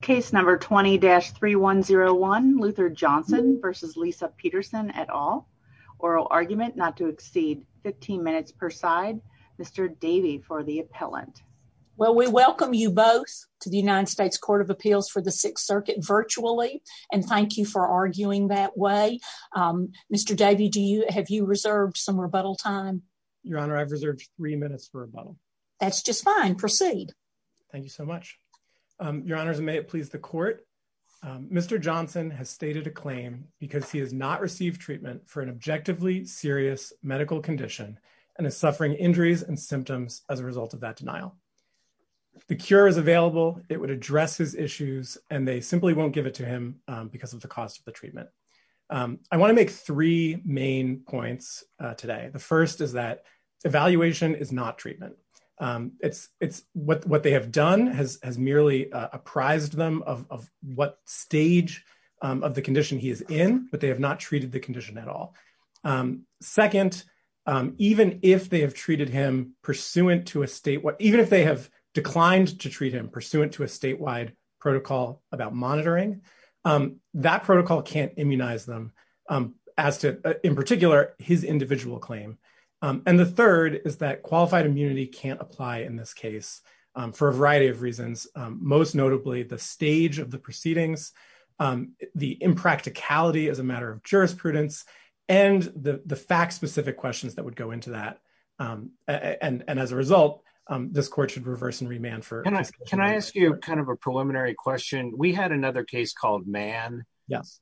Case number 20-3101 Luther Johnson v. Lisa Peterson et al. Oral argument not to exceed 15 minutes per side. Mr. Davey for the appellant. Well, we welcome you both to the United States Court of Appeals for the Sixth Circuit virtually and thank you for arguing that way. Mr. Davey, do you have you reserved some rebuttal time? Your Honor, I've reserved three minutes for rebuttal. That's just fine. Proceed. Thank you so much. Your Honor, may it please the court. Mr. Johnson has stated a claim because he has not received treatment for an objectively serious medical condition and is suffering injuries and symptoms as a result of that denial. If the cure is available, it would address his issues and they simply won't give it to him because of the cost of the treatment. I want to make three main points today. The first is that evaluation is not a requirement for treatment. It's what they have done has merely apprised them of what stage of the condition he is in, but they have not treated the condition at all. Second, even if they have treated him pursuant to a statewide, even if they have declined to treat him pursuant to a statewide protocol about monitoring, that protocol can't immunize them as to, in particular, his individual claim. The third is that qualified immunity can't apply in this case for a variety of reasons, most notably the stage of the proceedings, the impracticality as a matter of jurisprudence, and the fact-specific questions that would go into that. As a result, this court should reverse and remand for- Can I ask you a preliminary question? We had another case called Mann,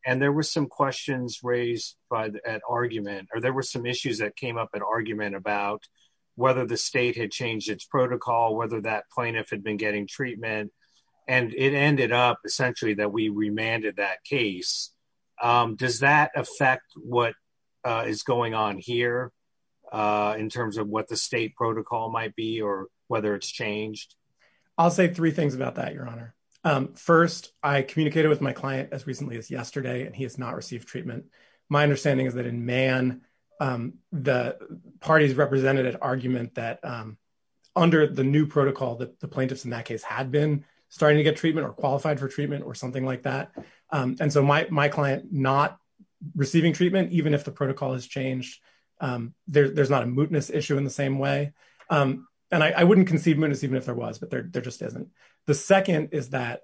and there were some questions raised at argument, or there were some issues that came up at argument about whether the state had changed its protocol, whether that plaintiff had been getting treatment, and it ended up essentially that we remanded that case. Does that affect what is going on here in terms of what the state protocol might be or whether it's changed? I'll say three things about that, Your Honor. First, I communicated with my client as recently as yesterday, and he has not received treatment. My understanding is that in Mann, the parties represented at argument that under the new protocol that the plaintiffs in that case had been starting to get treatment or qualified for treatment or something like that, and so my client not receiving treatment even if the protocol has changed, there's not a mootness issue in the same way. I wouldn't conceive mootness even if there was, but there just isn't. The second is that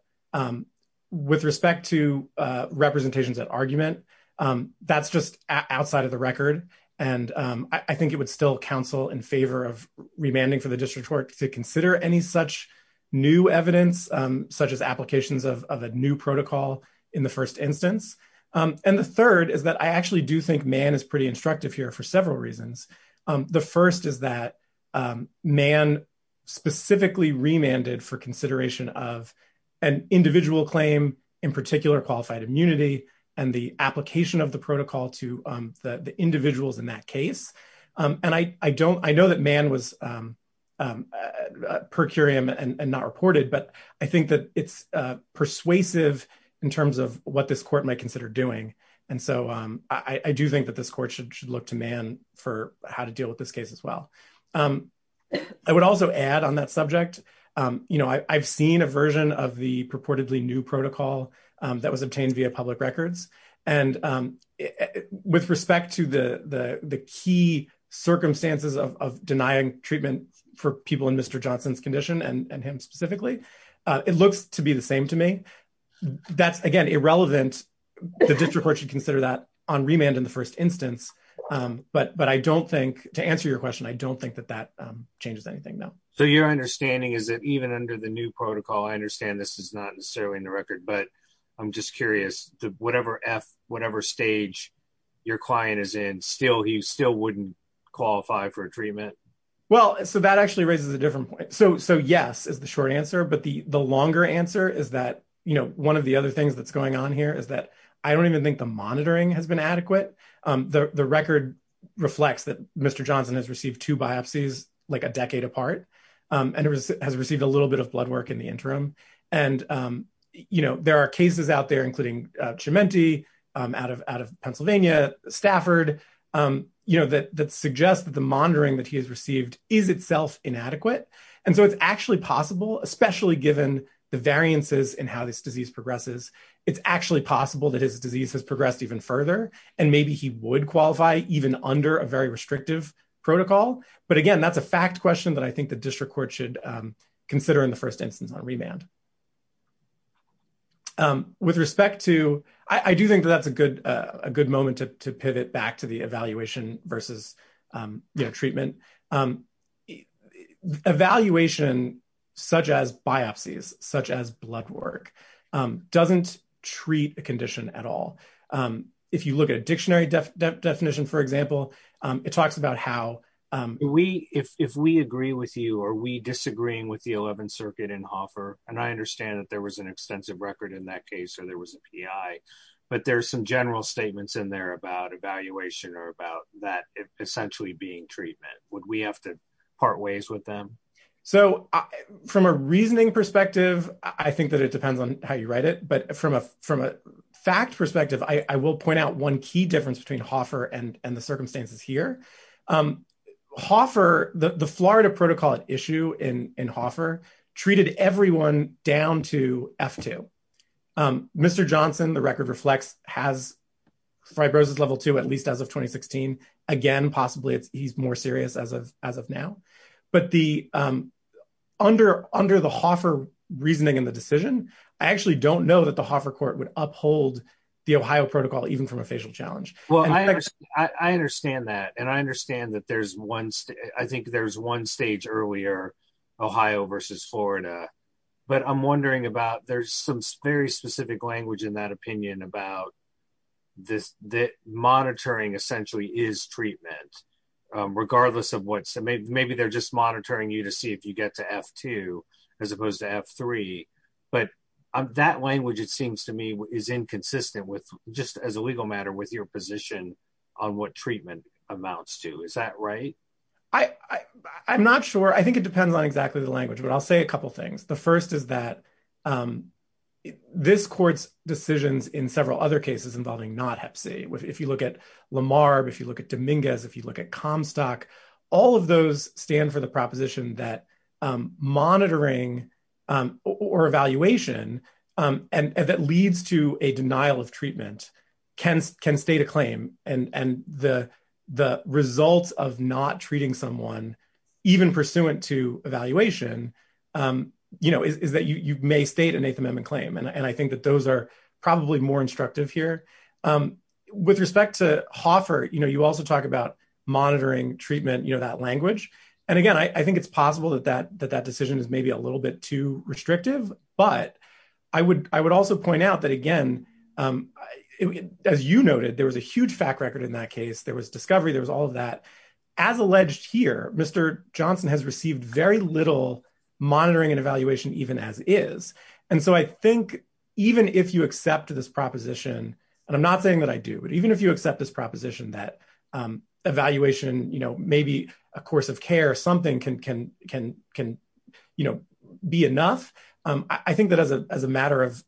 with respect to representations at argument, that's just outside of the record, and I think it would still counsel in favor of remanding for the district court to consider any such new evidence such as applications of a new protocol in the first instance. The third is I actually do think Mann is pretty instructive here for several reasons. The first is that Mann specifically remanded for consideration of an individual claim, in particular qualified immunity and the application of the protocol to the individuals in that case. I know that Mann was per curiam and not reported, but I think that it's persuasive in terms of what this court might consider doing, and so I do think that this court should look to Mann for how to deal with this case as well. I would also add on that subject, I've seen a version of the purportedly new protocol that was obtained via public records, and with respect to the key circumstances of denying treatment for people in Mr. Johnson's condition and him specifically, it looks to be the same to me. That's, again, irrelevant. The district court should consider that on remand in the first instance, but I don't think, to answer your question, I don't think that that changes anything though. So your understanding is that even under the new protocol, I understand this is not necessarily in the record, but I'm just curious, whatever F, whatever stage your client is in, he still wouldn't qualify for a treatment? Well, so that actually raises a different point. So yes is the short answer, but the longer answer is that, you know, one of the other things that's going on here is that I don't even think the monitoring has been adequate. The record reflects that Mr. Johnson has received two biopsies like a decade apart, and has received a little bit of blood work in the interim, and, you know, there are cases out there, including Cimenti out of Pennsylvania, Stafford, you know, that suggests that the monitoring that he has received is itself inadequate. And so it's actually possible, especially given the variances in how this disease progresses, it's actually possible that his disease has progressed even further, and maybe he would qualify even under a very restrictive protocol. But again, that's a fact question that I think the district court should consider in the first instance on remand. With respect to, I do think that that's a good moment to pivot back to the evaluation versus, you know, treatment. Evaluation, such as biopsies, such as blood work, doesn't treat a condition at all. If you look at a dictionary definition, for example, it talks about how we, if we agree with you, are we disagreeing with the 11th circuit in Hoffer? And I understand that there was an extensive record in that case, or there was a PI, but there's some general statements in there about evaluation or about that essentially being treatment. Would we have to part ways with them? So from a reasoning perspective, I think that it depends on how you write it. But from a fact perspective, I will point out one key difference between Hoffer and the circumstances here. Hoffer, the Florida protocol at issue in Hoffer treated everyone down to F2. Mr. Johnson, the record reflects, has fibrosis level two, at least as of 2016. Again, possibly he's more serious as of now. But under the Hoffer reasoning and the decision, I actually don't know that the Hoffer court would uphold the Ohio protocol, even from a facial challenge. Well, I understand that, and I understand that there's one, I think there's one stage earlier, Ohio versus Florida, but I'm wondering about, there's some very specific language in that opinion about this, that monitoring essentially is treatment, regardless of what, so maybe they're just monitoring you to see if you get to F2 as opposed to F3. But that language, it seems to me is inconsistent with just as a legal matter with your position on what treatment amounts to. Is that right? I'm not sure. I think it depends on exactly the language, but I'll say a couple things. The first is that this court's decisions in several other cases involving not hep C, if you look at Lamar, if you look at Dominguez, if you look at Comstock, all of those stand for the proposition that monitoring or evaluation that leads to a denial of treatment can state a claim. And the results of not treating someone, even pursuant to evaluation, is that you may state an eighth amendment claim. And I think that those are probably more instructive here. With respect to monitoring treatment, that language. And again, I think it's possible that that decision is maybe a little bit too restrictive, but I would also point out that again, as you noted, there was a huge fact record in that case, there was discovery, there was all of that. As alleged here, Mr. Johnson has received very little monitoring and evaluation even as is. And so I think even if you accept this proposition, and I'm not saying that I do, but even if you accept this proposition that evaluation, maybe a course of care, something can be enough. I think that as a matter of,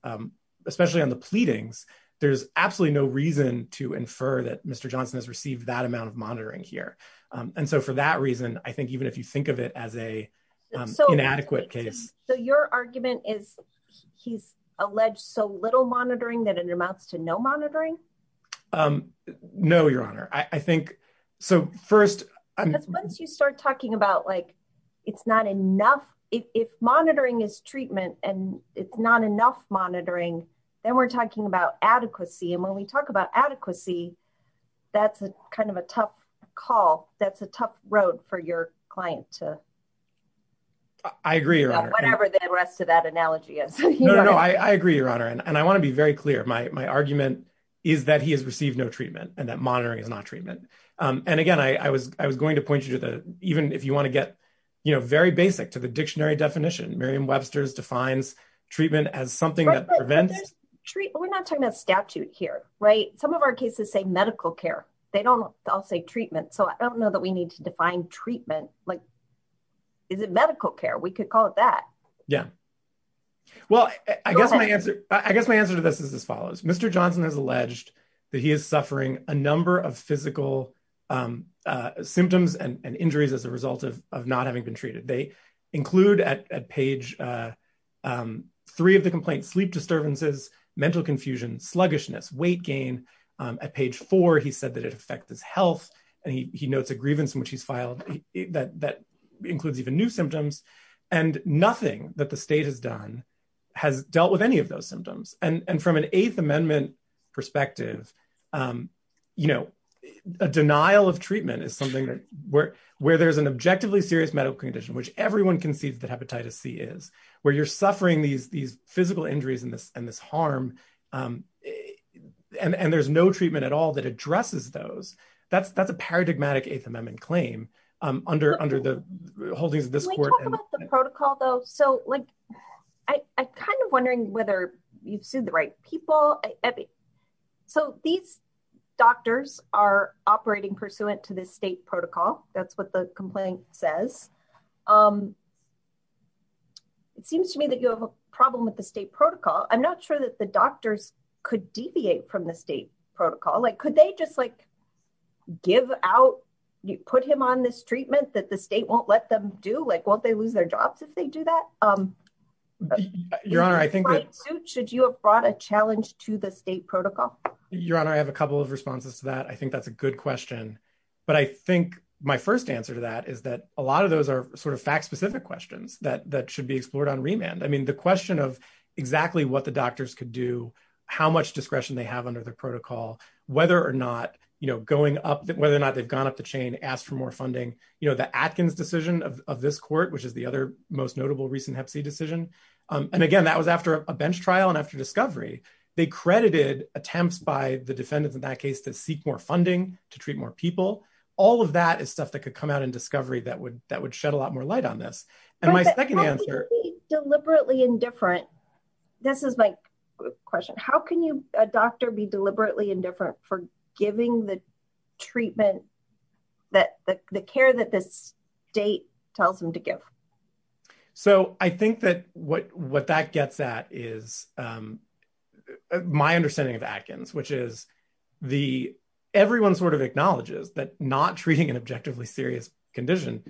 especially on the pleadings, there's absolutely no reason to infer that Mr. Johnson has received that amount of monitoring here. And so for that reason, I think even if you think of it as a inadequate case. So your argument is he's alleged so little monitoring that it amounts to no honor. I think so first, once you start talking about like, it's not enough, if monitoring is treatment, and it's not enough monitoring, then we're talking about adequacy. And when we talk about adequacy, that's a kind of a tough call. That's a tough road for your client to I agree or whatever the rest of that analogy is. No, I agree, Your Honor. And I want to be very and that monitoring is not treatment. And again, I was going to point you to the even if you want to get, you know, very basic to the dictionary definition, Miriam Webster's defines treatment as something that prevents treat. We're not talking about statute here, right? Some of our cases say medical care. They don't all say treatment. So I don't know that we need to define treatment. Like, is it medical care? We could call it that. Yeah. Well, I guess my answer, I guess my answer to this is as follows. Mr. Johnson has alleged that he is suffering a number of physical symptoms and injuries as a result of not having been treated. They include at page three of the complaint, sleep disturbances, mental confusion, sluggishness, weight gain. At page four, he said that it affects his health. And he notes a grievance in which he's filed that that includes even new symptoms, and nothing that the state has done has dealt with any of those symptoms. And from an Eighth Amendment perspective, you know, a denial of treatment is something that where where there's an objectively serious medical condition, which everyone can see that hepatitis C is where you're suffering these these physical injuries and this and this harm. And there's no treatment at all that addresses those. That's that's a paradigmatic Eighth Amendment claim under under the holdings of the protocol, though. So like, I kind of wondering whether you've sued the right people. So these doctors are operating pursuant to the state protocol. That's what the complaint says. It seems to me that you have a problem with the state protocol. I'm not sure that the doctors could deviate from the state protocol. Like, could they just like, give out, put him on this do like, won't they lose their jobs if they do that? Um, your honor, I think, should you have brought a challenge to the state protocol? Your Honor, I have a couple of responses to that. I think that's a good question. But I think my first answer to that is that a lot of those are sort of fact specific questions that that should be explored on remand. I mean, the question of exactly what the doctors could do, how much discretion they have under the protocol, whether or not, you know, going up that whether or not they've gone up the chain, asked for more funding, you know, the Atkins decision of this court, which is the other most notable recent Hep C decision. And again, that was after a bench trial. And after discovery, they credited attempts by the defendants in that case to seek more funding to treat more people. All of that is stuff that could come out in discovery that would that would shed a lot more light on this. And my second answer, deliberately indifferent. This is my question. How can you a doctor be deliberately indifferent for giving the treatment that the care that this date tells them to give? So I think that what what that gets at is my understanding of Atkins, which is the everyone sort of acknowledges that not treating an objectively serious condition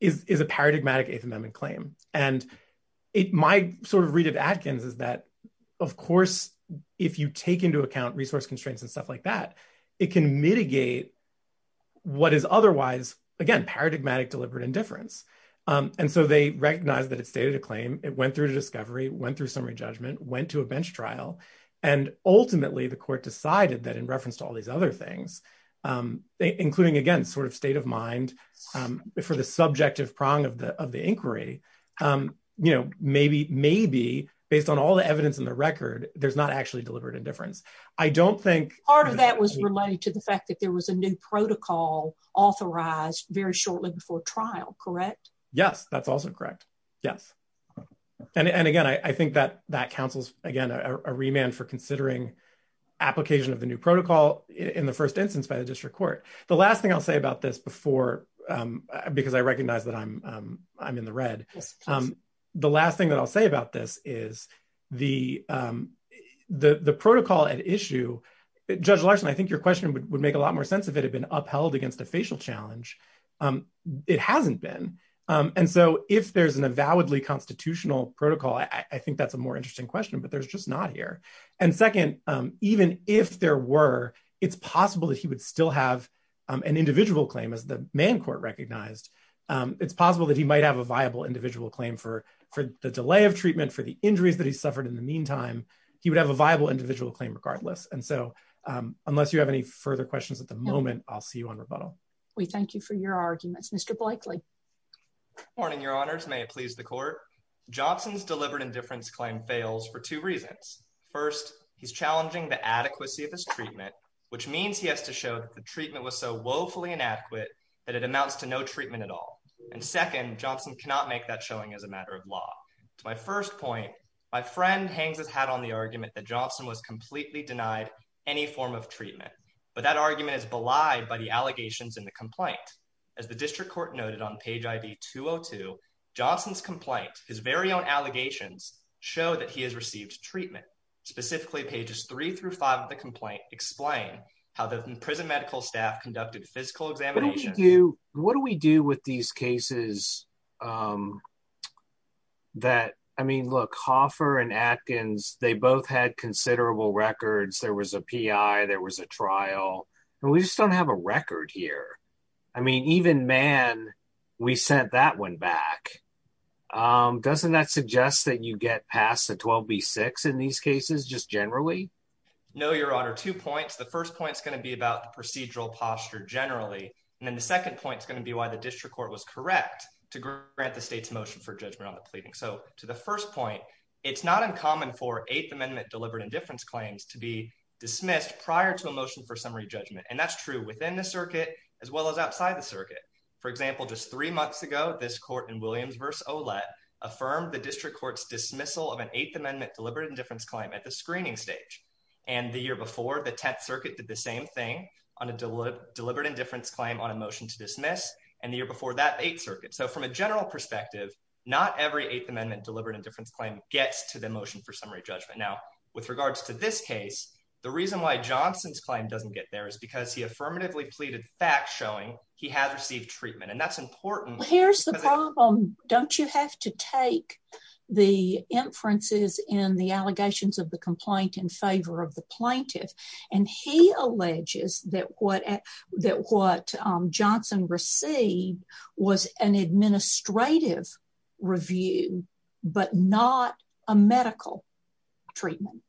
is a paradigmatic eighth amendment claim. And it my sort of read of Atkins is that, of course, if you take into account resource constraints and stuff like that, it can mitigate what is otherwise, again, paradigmatic deliberate indifference. And so they recognize that it stated a claim, it went through discovery went through summary judgment went to a bench trial. And ultimately, the court decided that in reference to all these other things, including against sort of state of mind, for the subjective prong of the of the record, there's not actually delivered indifference. I don't think part of that was related to the fact that there was a new protocol authorized very shortly before trial. Correct? Yes, that's also correct. Yes. And again, I think that that counsels, again, a remand for considering application of the new protocol in the first instance by the district court. The last thing I'll say about this before, because I recognize that I'm, I'm in the red. The last thing that I'll say about this is the, the protocol at issue, Judge Larson, I think your question would make a lot more sense if it had been upheld against a facial challenge. It hasn't been. And so if there's an avowedly constitutional protocol, I think that's a more interesting question, but there's just not here. And second, even if there were, it's possible that he would still have an individual claim as the main court recognized, it's possible that he might have a viable individual claim for, for the delay of treatment, for the injuries that he's suffered in the meantime, he would have a viable individual claim regardless. And so unless you have any further questions at the moment, I'll see you on rebuttal. We thank you for your arguments, Mr. Blakely. Good morning, your honors. May it please the court. Johnson's delivered indifference claim fails for two reasons. First, he's challenging the adequacy of this treatment, which means he has to show that the treatment was so treatment at all. And second, Johnson cannot make that showing as a matter of law. To my first point, my friend hangs his hat on the argument that Johnson was completely denied any form of treatment, but that argument is belied by the allegations in the complaint. As the district court noted on page ID two Oh two Johnson's complaint, his very own allegations show that he has received treatment specifically pages three through five of the complaint explain how the prison medical staff conducted physical examination. What do we do with these cases? Um, that, I mean, look, Hoffer and Atkins, they both had considerable records. There was a PI, there was a trial, and we just don't have a record here. I mean, even man, we sent that one back. Um, doesn't that suggest that you get past the 12 B6 in these cases? Just generally? No, Your Honor. Two points. The first point is going to be about the procedural posture generally. And then the second point is going to be why the district court was correct to grant the state's motion for judgment on the pleading. So to the first point, it's not uncommon for eighth amendment delivered indifference claims to be dismissed prior to a motion for summary judgment. And that's true within the circuit as well as outside the circuit. For example, just three months ago, this court in Williams versus Olette affirmed the district court's dismissal of an eighth amendment deliberate indifference claim at the screening stage. And the year before the 10th circuit did the same thing on a deliberate indifference claim on a motion to dismiss and the year before that eight circuits. So from a general perspective, not every eighth amendment deliberate indifference claim gets to the motion for summary judgment. Now with regards to this case, the reason why Johnson's claim doesn't get there is because he affirmatively pleaded facts showing he has received treatment. And that's important. Here's the problem. Don't you have to take the inferences in the allegations of the complaint in favor of the plaintiff. And he alleges that what Johnson received was an administrative review, but not a medical treatment.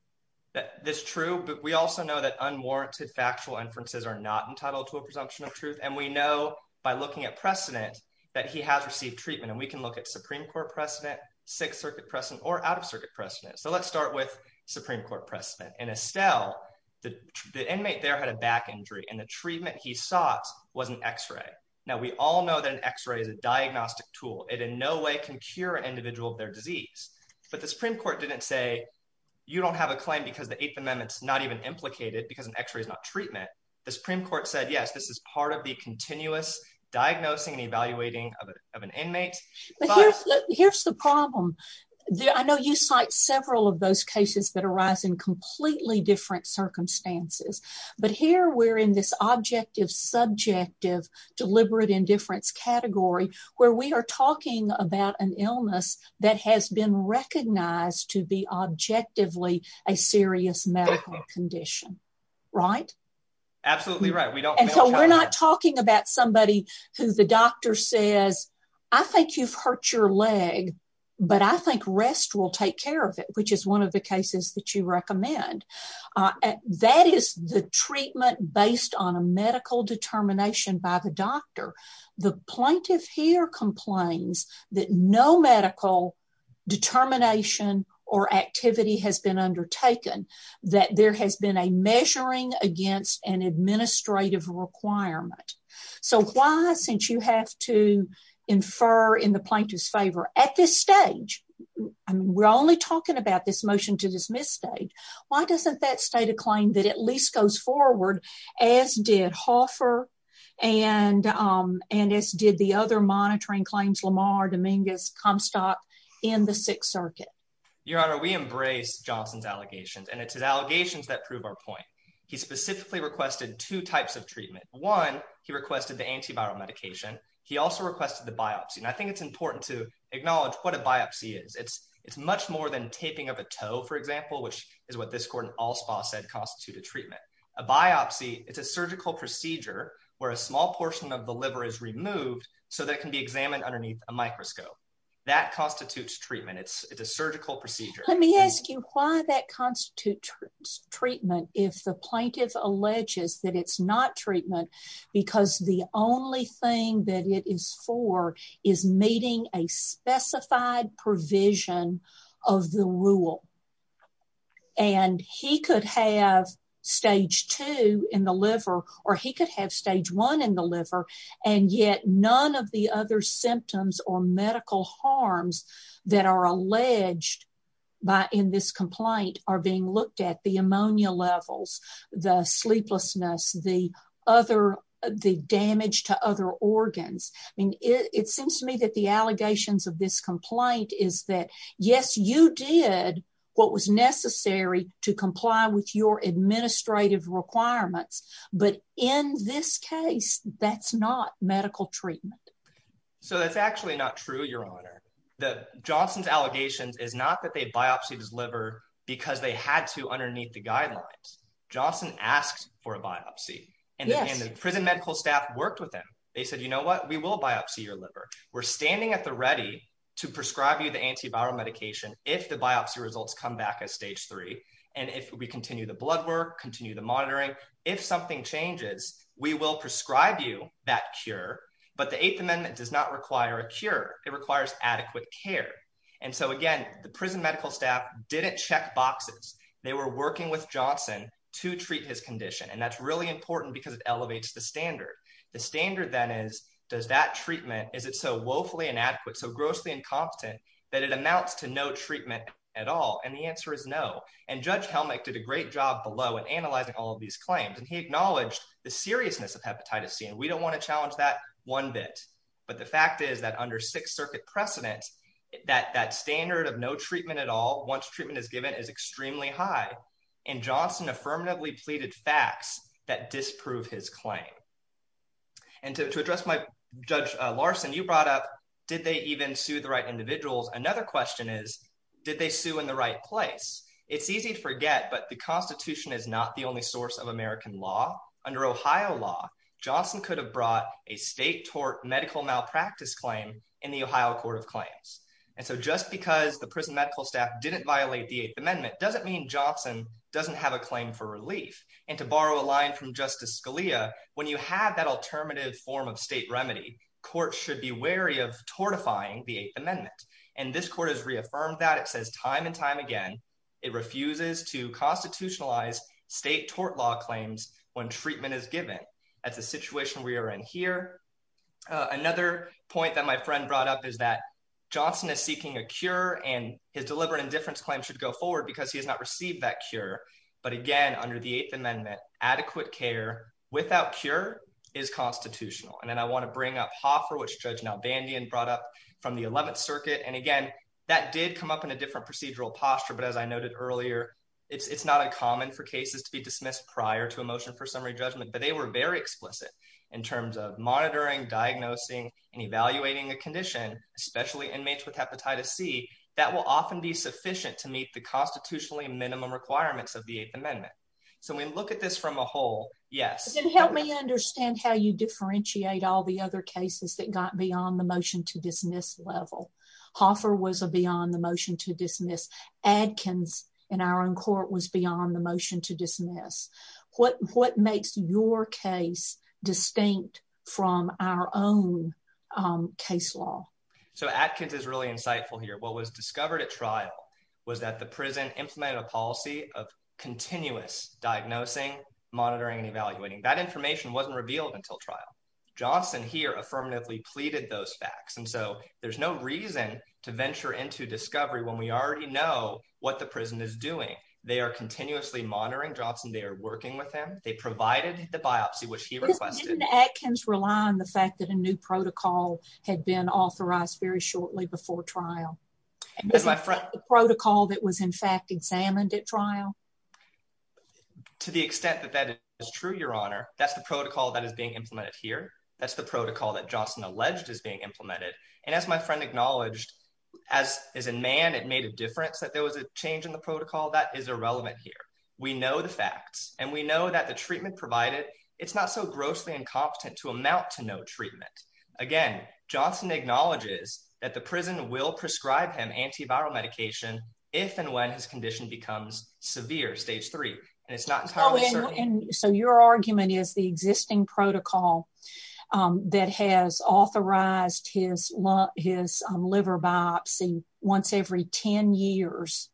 That's true. But we also know that unwarranted factual inferences are not entitled to a presumption of truth. And we know by looking at precedent that he has received treatment and we can look at Supreme court precedent, sixth circuit precedent or out of circuit precedent. So let's start with Supreme court precedent and Estelle, the inmate there had a back injury and the treatment he sought wasn't x-ray. Now we all know that an x-ray is a diagnostic tool. It in no way can cure an individual of their disease, but the Supreme court didn't say you don't have a claim because the eighth amendment's not even implicated because an x-ray is not treatment. The Supreme court said, yes, this is part of the continuous diagnosing and evaluating of an inmate. Here's the problem. I know you cite several of those cases that arise in completely different circumstances, but here we're in this objective, subjective, deliberate indifference category where we are talking about an illness that has been recognized to be objectively a serious condition, right? Absolutely right. And so we're not talking about somebody who the doctor says, I think you've hurt your leg, but I think rest will take care of it, which is one of the cases that you recommend. That is the treatment based on a medical determination by the doctor. The plaintiff here complains that no medical determination or activity has been undertaken. That there has been a measuring against an administrative requirement. So why, since you have to infer in the plaintiff's favor at this stage, and we're only talking about this motion to dismiss state, why doesn't that state a claim that at least goes forward as did Hoffer and, and as did the other monitoring claims, Lamar, Dominguez, Comstock in the sixth circuit. Your honor, we embrace Johnson's allegations and it's his allegations that prove our point. He specifically requested two types of treatment. One, he requested the antiviral medication. He also requested the biopsy. And I think it's important to acknowledge what a biopsy is. It's, it's much more than taping of a toe, for example, which is what this Gordon Allspaw said constituted treatment. A biopsy, it's a surgical procedure where a small portion of the liver is removed so that can be examined underneath a microscope. That constitutes treatment. It's a surgical procedure. Let me ask you why that constitutes treatment if the plaintiff alleges that it's not treatment because the only thing that it is for is meeting a specified provision of the rule. And he could have stage two in the liver, or he could have stage one in the liver, and yet none of the other symptoms or medical harms that are alleged by in this complaint are being looked at the ammonia levels, the sleeplessness, the other, the damage to other organs. I mean, it seems to me that the allegations of this complaint is that yes, you did what was medical treatment. So that's actually not true. Your honor, the Johnson's allegations is not that they biopsied his liver because they had to underneath the guidelines. Johnson asked for a biopsy and the prison medical staff worked with them. They said, you know what, we will biopsy your liver. We're standing at the ready to prescribe you the antiviral medication. If the biopsy results come back as stage three. And if we continue the blood work, continue the monitoring, if something changes, we will prescribe you that cure, but the eighth amendment does not require a cure. It requires adequate care. And so again, the prison medical staff didn't check boxes. They were working with Johnson to treat his condition. And that's really important because it elevates the standard. The standard then is, does that treatment, is it so woefully inadequate, so grossly incompetent that it amounts to no treatment at all? And the answer is no. And judge Helmick did a great job below and analyzing all of these claims. And he acknowledged the seriousness of hepatitis C. And we don't want to challenge that one bit, but the fact is that under sixth circuit precedent, that that standard of no treatment at all, once treatment is given is extremely high. And Johnson affirmatively pleaded facts that disprove his claim. And to address my judge Larson, you brought up, did they even sue the right individuals? Another question is, did they sue in the right place? It's easy to forget, but the constitution is not the only source of American law under Ohio law. Johnson could have brought a state tort medical malpractice claim in the Ohio court of claims. And so just because the prison medical staff didn't violate the eighth amendment doesn't mean Johnson doesn't have a claim for relief. And to borrow a line from justice Scalia, when you have that alternative form of state remedy court should be wary of fortifying the eighth amendment. And this court has reaffirmed that it says time and time again, it refuses to constitutionalize state tort law claims when treatment is given. That's a situation we are in here. Another point that my friend brought up is that Johnson is seeking a cure and his deliberate indifference claim should go forward because he has not received that cure. But again, under the eighth amendment, adequate care without cure is constitutional. And then I from the 11th circuit. And again, that did come up in a different procedural posture. But as I noted earlier, it's not uncommon for cases to be dismissed prior to a motion for summary judgment, but they were very explicit in terms of monitoring, diagnosing, and evaluating the condition, especially inmates with hepatitis C, that will often be sufficient to meet the constitutionally minimum requirements of the eighth amendment. So when we look at this from a whole, yes, help me understand how you differentiate all the other cases that got beyond the motion to dismiss level. Hoffer was a beyond the motion to dismiss. Adkins in our own court was beyond the motion to dismiss what what makes your case distinct from our own case law. So Adkins is really insightful here. What was discovered at trial was that the prison implemented a policy of continuous diagnosing, monitoring and evaluating that information wasn't revealed until trial. Johnson here affirmatively pleaded those facts. And so there's no reason to venture into discovery when we already know what the prison is doing. They are continuously monitoring jobs and they are working with them. They provided the biopsy which he requested. Adkins rely on the fact that a new protocol had been authorized very shortly before trial. My friend protocol that was in fact examined at trial. To the extent that that is true, Your Honor, that's the protocol that is being implemented here. That's the protocol that Johnson alleged is being implemented. And as my friend acknowledged, as as a man, it made a difference that there was a change in the protocol that is irrelevant here. We know the facts and we know that the treatment provided, it's not so grossly incompetent to to no treatment. Again, Johnson acknowledges that the prison will prescribe him antiviral medication if and when his condition becomes severe. Stage three. And it's not. So your argument is the existing protocol that has authorized his his liver biopsy once every 10 years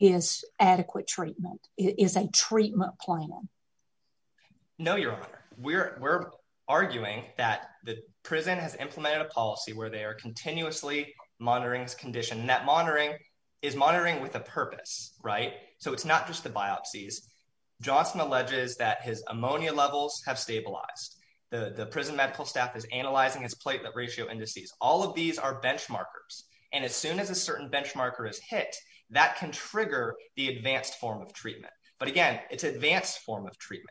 is adequate treatment is a treatment plan. No, Your Honor, we're we're arguing that the prison has implemented a policy where they are continuously monitoring his condition. Net monitoring is monitoring with a purpose, right? So it's not just the biopsies. Johnson alleges that his ammonia levels have stabilized. The prison medical staff is analyzing his platelet ratio indices. All of these are benchmarkers. And as soon as a certain benchmarker is hit, that can trigger the advanced form of treatment.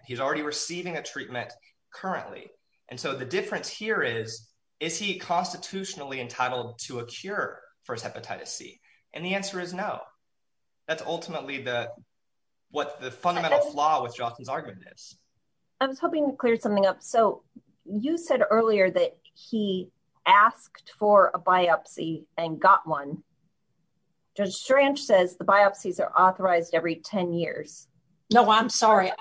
He's already receiving a treatment currently. And so the difference here is, is he constitutionally entitled to a cure for his hepatitis C? And the answer is no. That's ultimately the what the fundamental flaw with Johnson's argument is. I was hoping to clear something up. So you said earlier that he asked for a biopsy and got one. Judge Strange says the biopsies are authorized every 10 years. No, I'm sorry.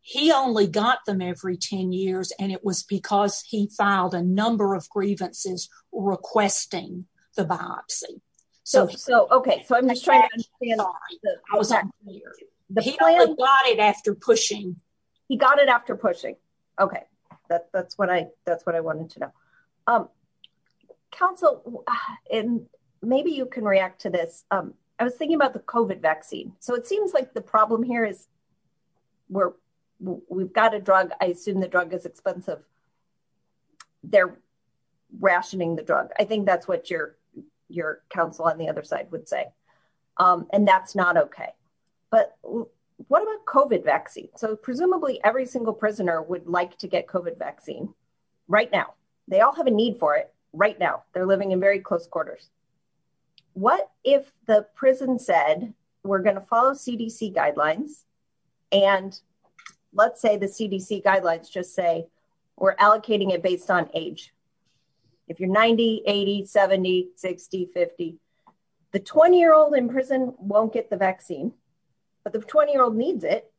He only got them every 10 years. And it was because he filed a number of grievances requesting the biopsy. So so okay, so I'm just trying to plot it after pushing. He got it after pushing. Okay, that's what I that's what I wanted to know. Counsel, and maybe you can react to this. I was thinking about the COVID vaccine. So it seems like the problem here is we're, we've got a drug, I assume the drug is expensive. They're rationing the drug. I think that's what your, your counsel on the other side would say. And that's not okay. But what about COVID vaccine? So presumably every single prisoner would like to right now they're living in very close quarters. What if the prison said, we're going to follow CDC guidelines. And let's say the CDC guidelines just say, we're allocating it based on age. If you're 90 8070 6050 the 20 year old in prison won't get the vaccine. But the 20 year old needs it.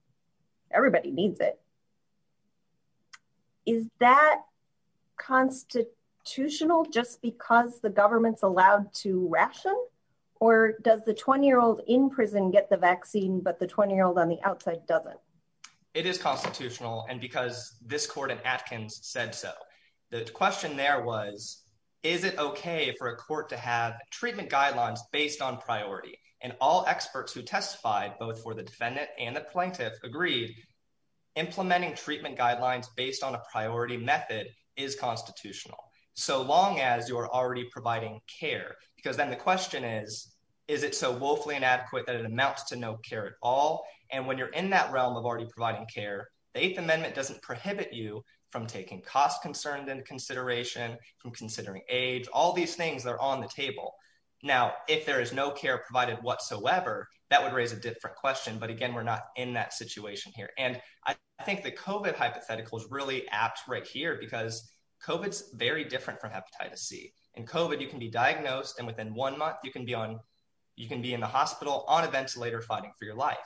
Everybody needs it. Is that constitutional just because the government's allowed to ration? Or does the 20 year old in prison get the vaccine but the 20 year old on the outside doesn't? It is constitutional and because this court and Atkins said so. The question there was, is it okay for a court to have treatment guidelines based on priority and all experts who testified both for the defendant and the plaintiff agreed, implementing treatment guidelines based on a priority method is constitutional. So long as you're already providing care, because then the question is, is it so woefully inadequate that it amounts to no care at all. And when you're in that realm of already providing care, the eighth amendment doesn't prohibit you from taking cost concerned and consideration from considering age, all these things that are on the would raise a different question. But again, we're not in that situation here. And I think the COVID hypothetical is really apt right here, because COVID is very different from hepatitis C and COVID, you can be diagnosed. And within one month, you can be on, you can be in the hospital on a ventilator fighting for your life.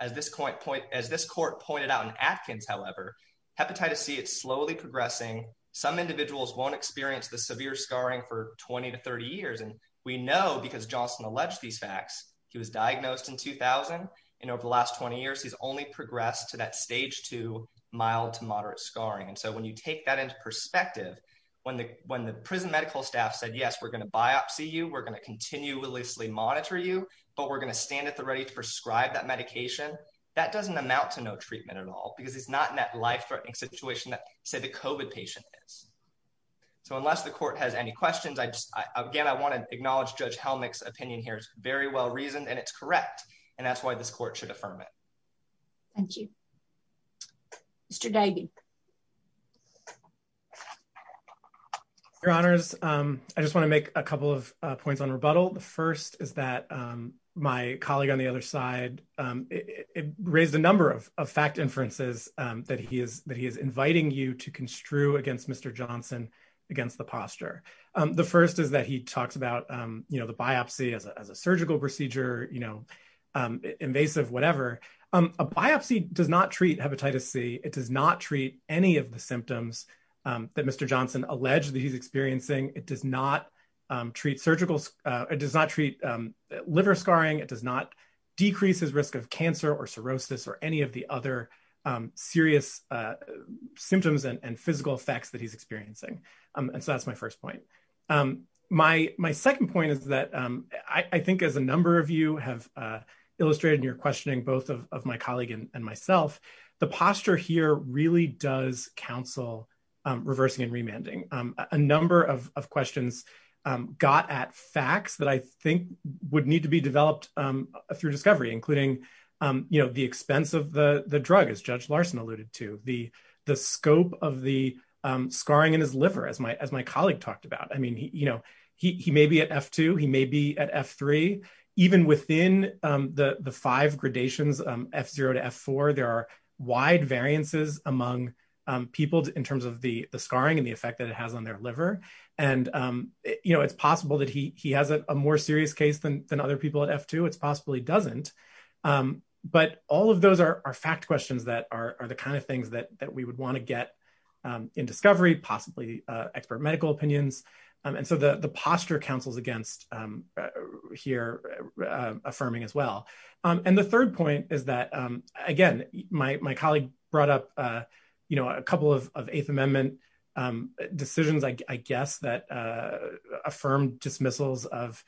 As this point point, as this court pointed out in Atkins, however, hepatitis C, it's slowly progressing. Some individuals won't experience the severe scarring for 20 to 30 years. And we know because Johnson alleged these facts, he was diagnosed in and over the last 20 years, he's only progressed to that stage two, mild to moderate scarring. And so when you take that into perspective, when the when the prison medical staff said, Yes, we're going to biopsy you, we're going to continually monitor you. But we're going to stand at the ready to prescribe that medication that doesn't amount to no treatment at all, because it's not in that life threatening situation that say the COVID patient is. So unless the court has any questions, I just again, I want to acknowledge Judge Helmick's opinion here is very well reasoned, and it's correct. And that's why this court should affirm it. Thank you. Mr. Daigle. Your Honors, I just want to make a couple of points on rebuttal. The first is that my colleague on the other side, it raised a number of fact inferences that he is that he is inviting you to construe against Mr. Johnson against the posture. The first is that he talks about, you know, the biopsy as a surgical procedure, you know, invasive, whatever, a biopsy does not treat hepatitis C, it does not treat any of the symptoms that Mr. Johnson alleged that he's experiencing, it does not treat surgical, it does not treat liver scarring, it does not decrease his risk of cancer or cirrhosis or any of the other serious symptoms and physical effects that he's experiencing. And so that's my first point. My second point is that I think as a number of you have illustrated in your questioning, both of my colleague and myself, the posture here really does counsel, reversing and remanding a number of questions got at facts that I think would need to be developed through discovery, including, you know, the expense of the drug, as Judge Larson alluded to, the scope of the scarring in his liver, as my colleague talked about, I mean, you know, he may be at F2, he may be at F3, even within the five gradations, F0 to F4, there are wide variances among people in terms of the scarring and the effect that it has on their liver. And, you know, it's possible that he has a more serious case than other people at F2, it's possible he doesn't. But all of those are fact questions that are the kind of things that we would want to get in discovery, possibly expert medical opinions. And so the posture counsels against here, affirming as well. And the third point is that, again, my colleague brought up, you know, a couple of Eighth Amendment decisions, I guess that affirmed dismissals of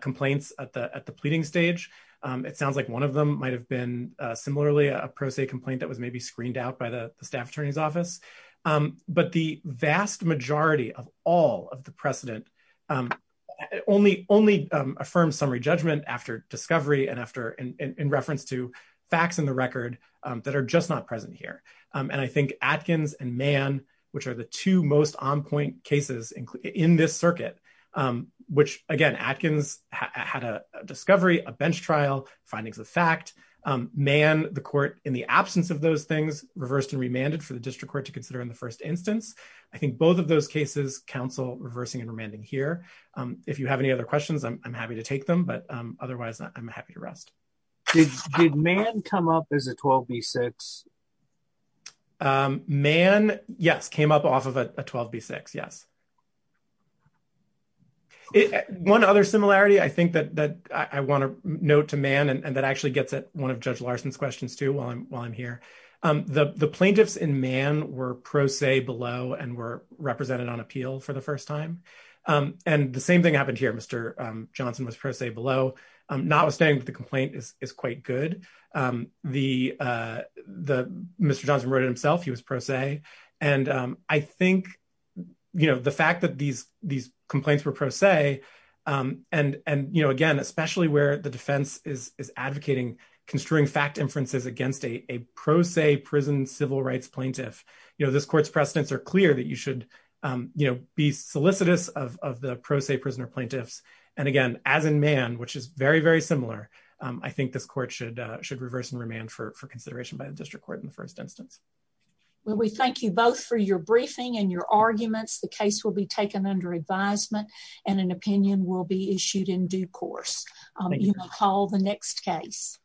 complaints at the at the pleading stage. It sounds like one of them might have been similarly a pro se complaint that was maybe screened out by the staff attorney's office. But the vast majority of all of the precedent only affirmed summary judgment after discovery and after in reference to facts in the record that are just not present here. And I think Atkins and Mann, which are the two most on point cases in this circuit, which again, Atkins had a discovery, a bench trial, findings of fact, Mann, the court in the absence of those things, reversed and remanded for the district court to consider in the first instance. I think both of those cases counsel reversing and remanding here. If you have any other questions, I'm happy to take them. But otherwise, I'm happy to rest. Did Mann come up as a 12B6? Mann, yes, came up off of a 12B6. Yes. One other similarity, I think that that I want to note to Mann, and that actually gets at one of Judge Larson's questions too, while I'm while I'm here. The plaintiffs in Mann were pro se below and were represented on appeal for the first time. And the same thing happened here. Mr. Johnson wrote it himself, he was pro se. And I think, you know, the fact that these, these complaints were pro se. And, and, you know, again, especially where the defense is advocating construing fact inferences against a pro se prison civil rights plaintiff, you know, this court's precedents are clear that you should, you know, be solicitous of the pro se prisoner plaintiffs. And again, as in Mann, which is very, very similar, I think this court should should reverse and remand for consideration by the district court in the first instance. Well, we thank you both for your briefing and your arguments. The case will be taken under advisement and an opinion will be issued in due course. You may call the next case.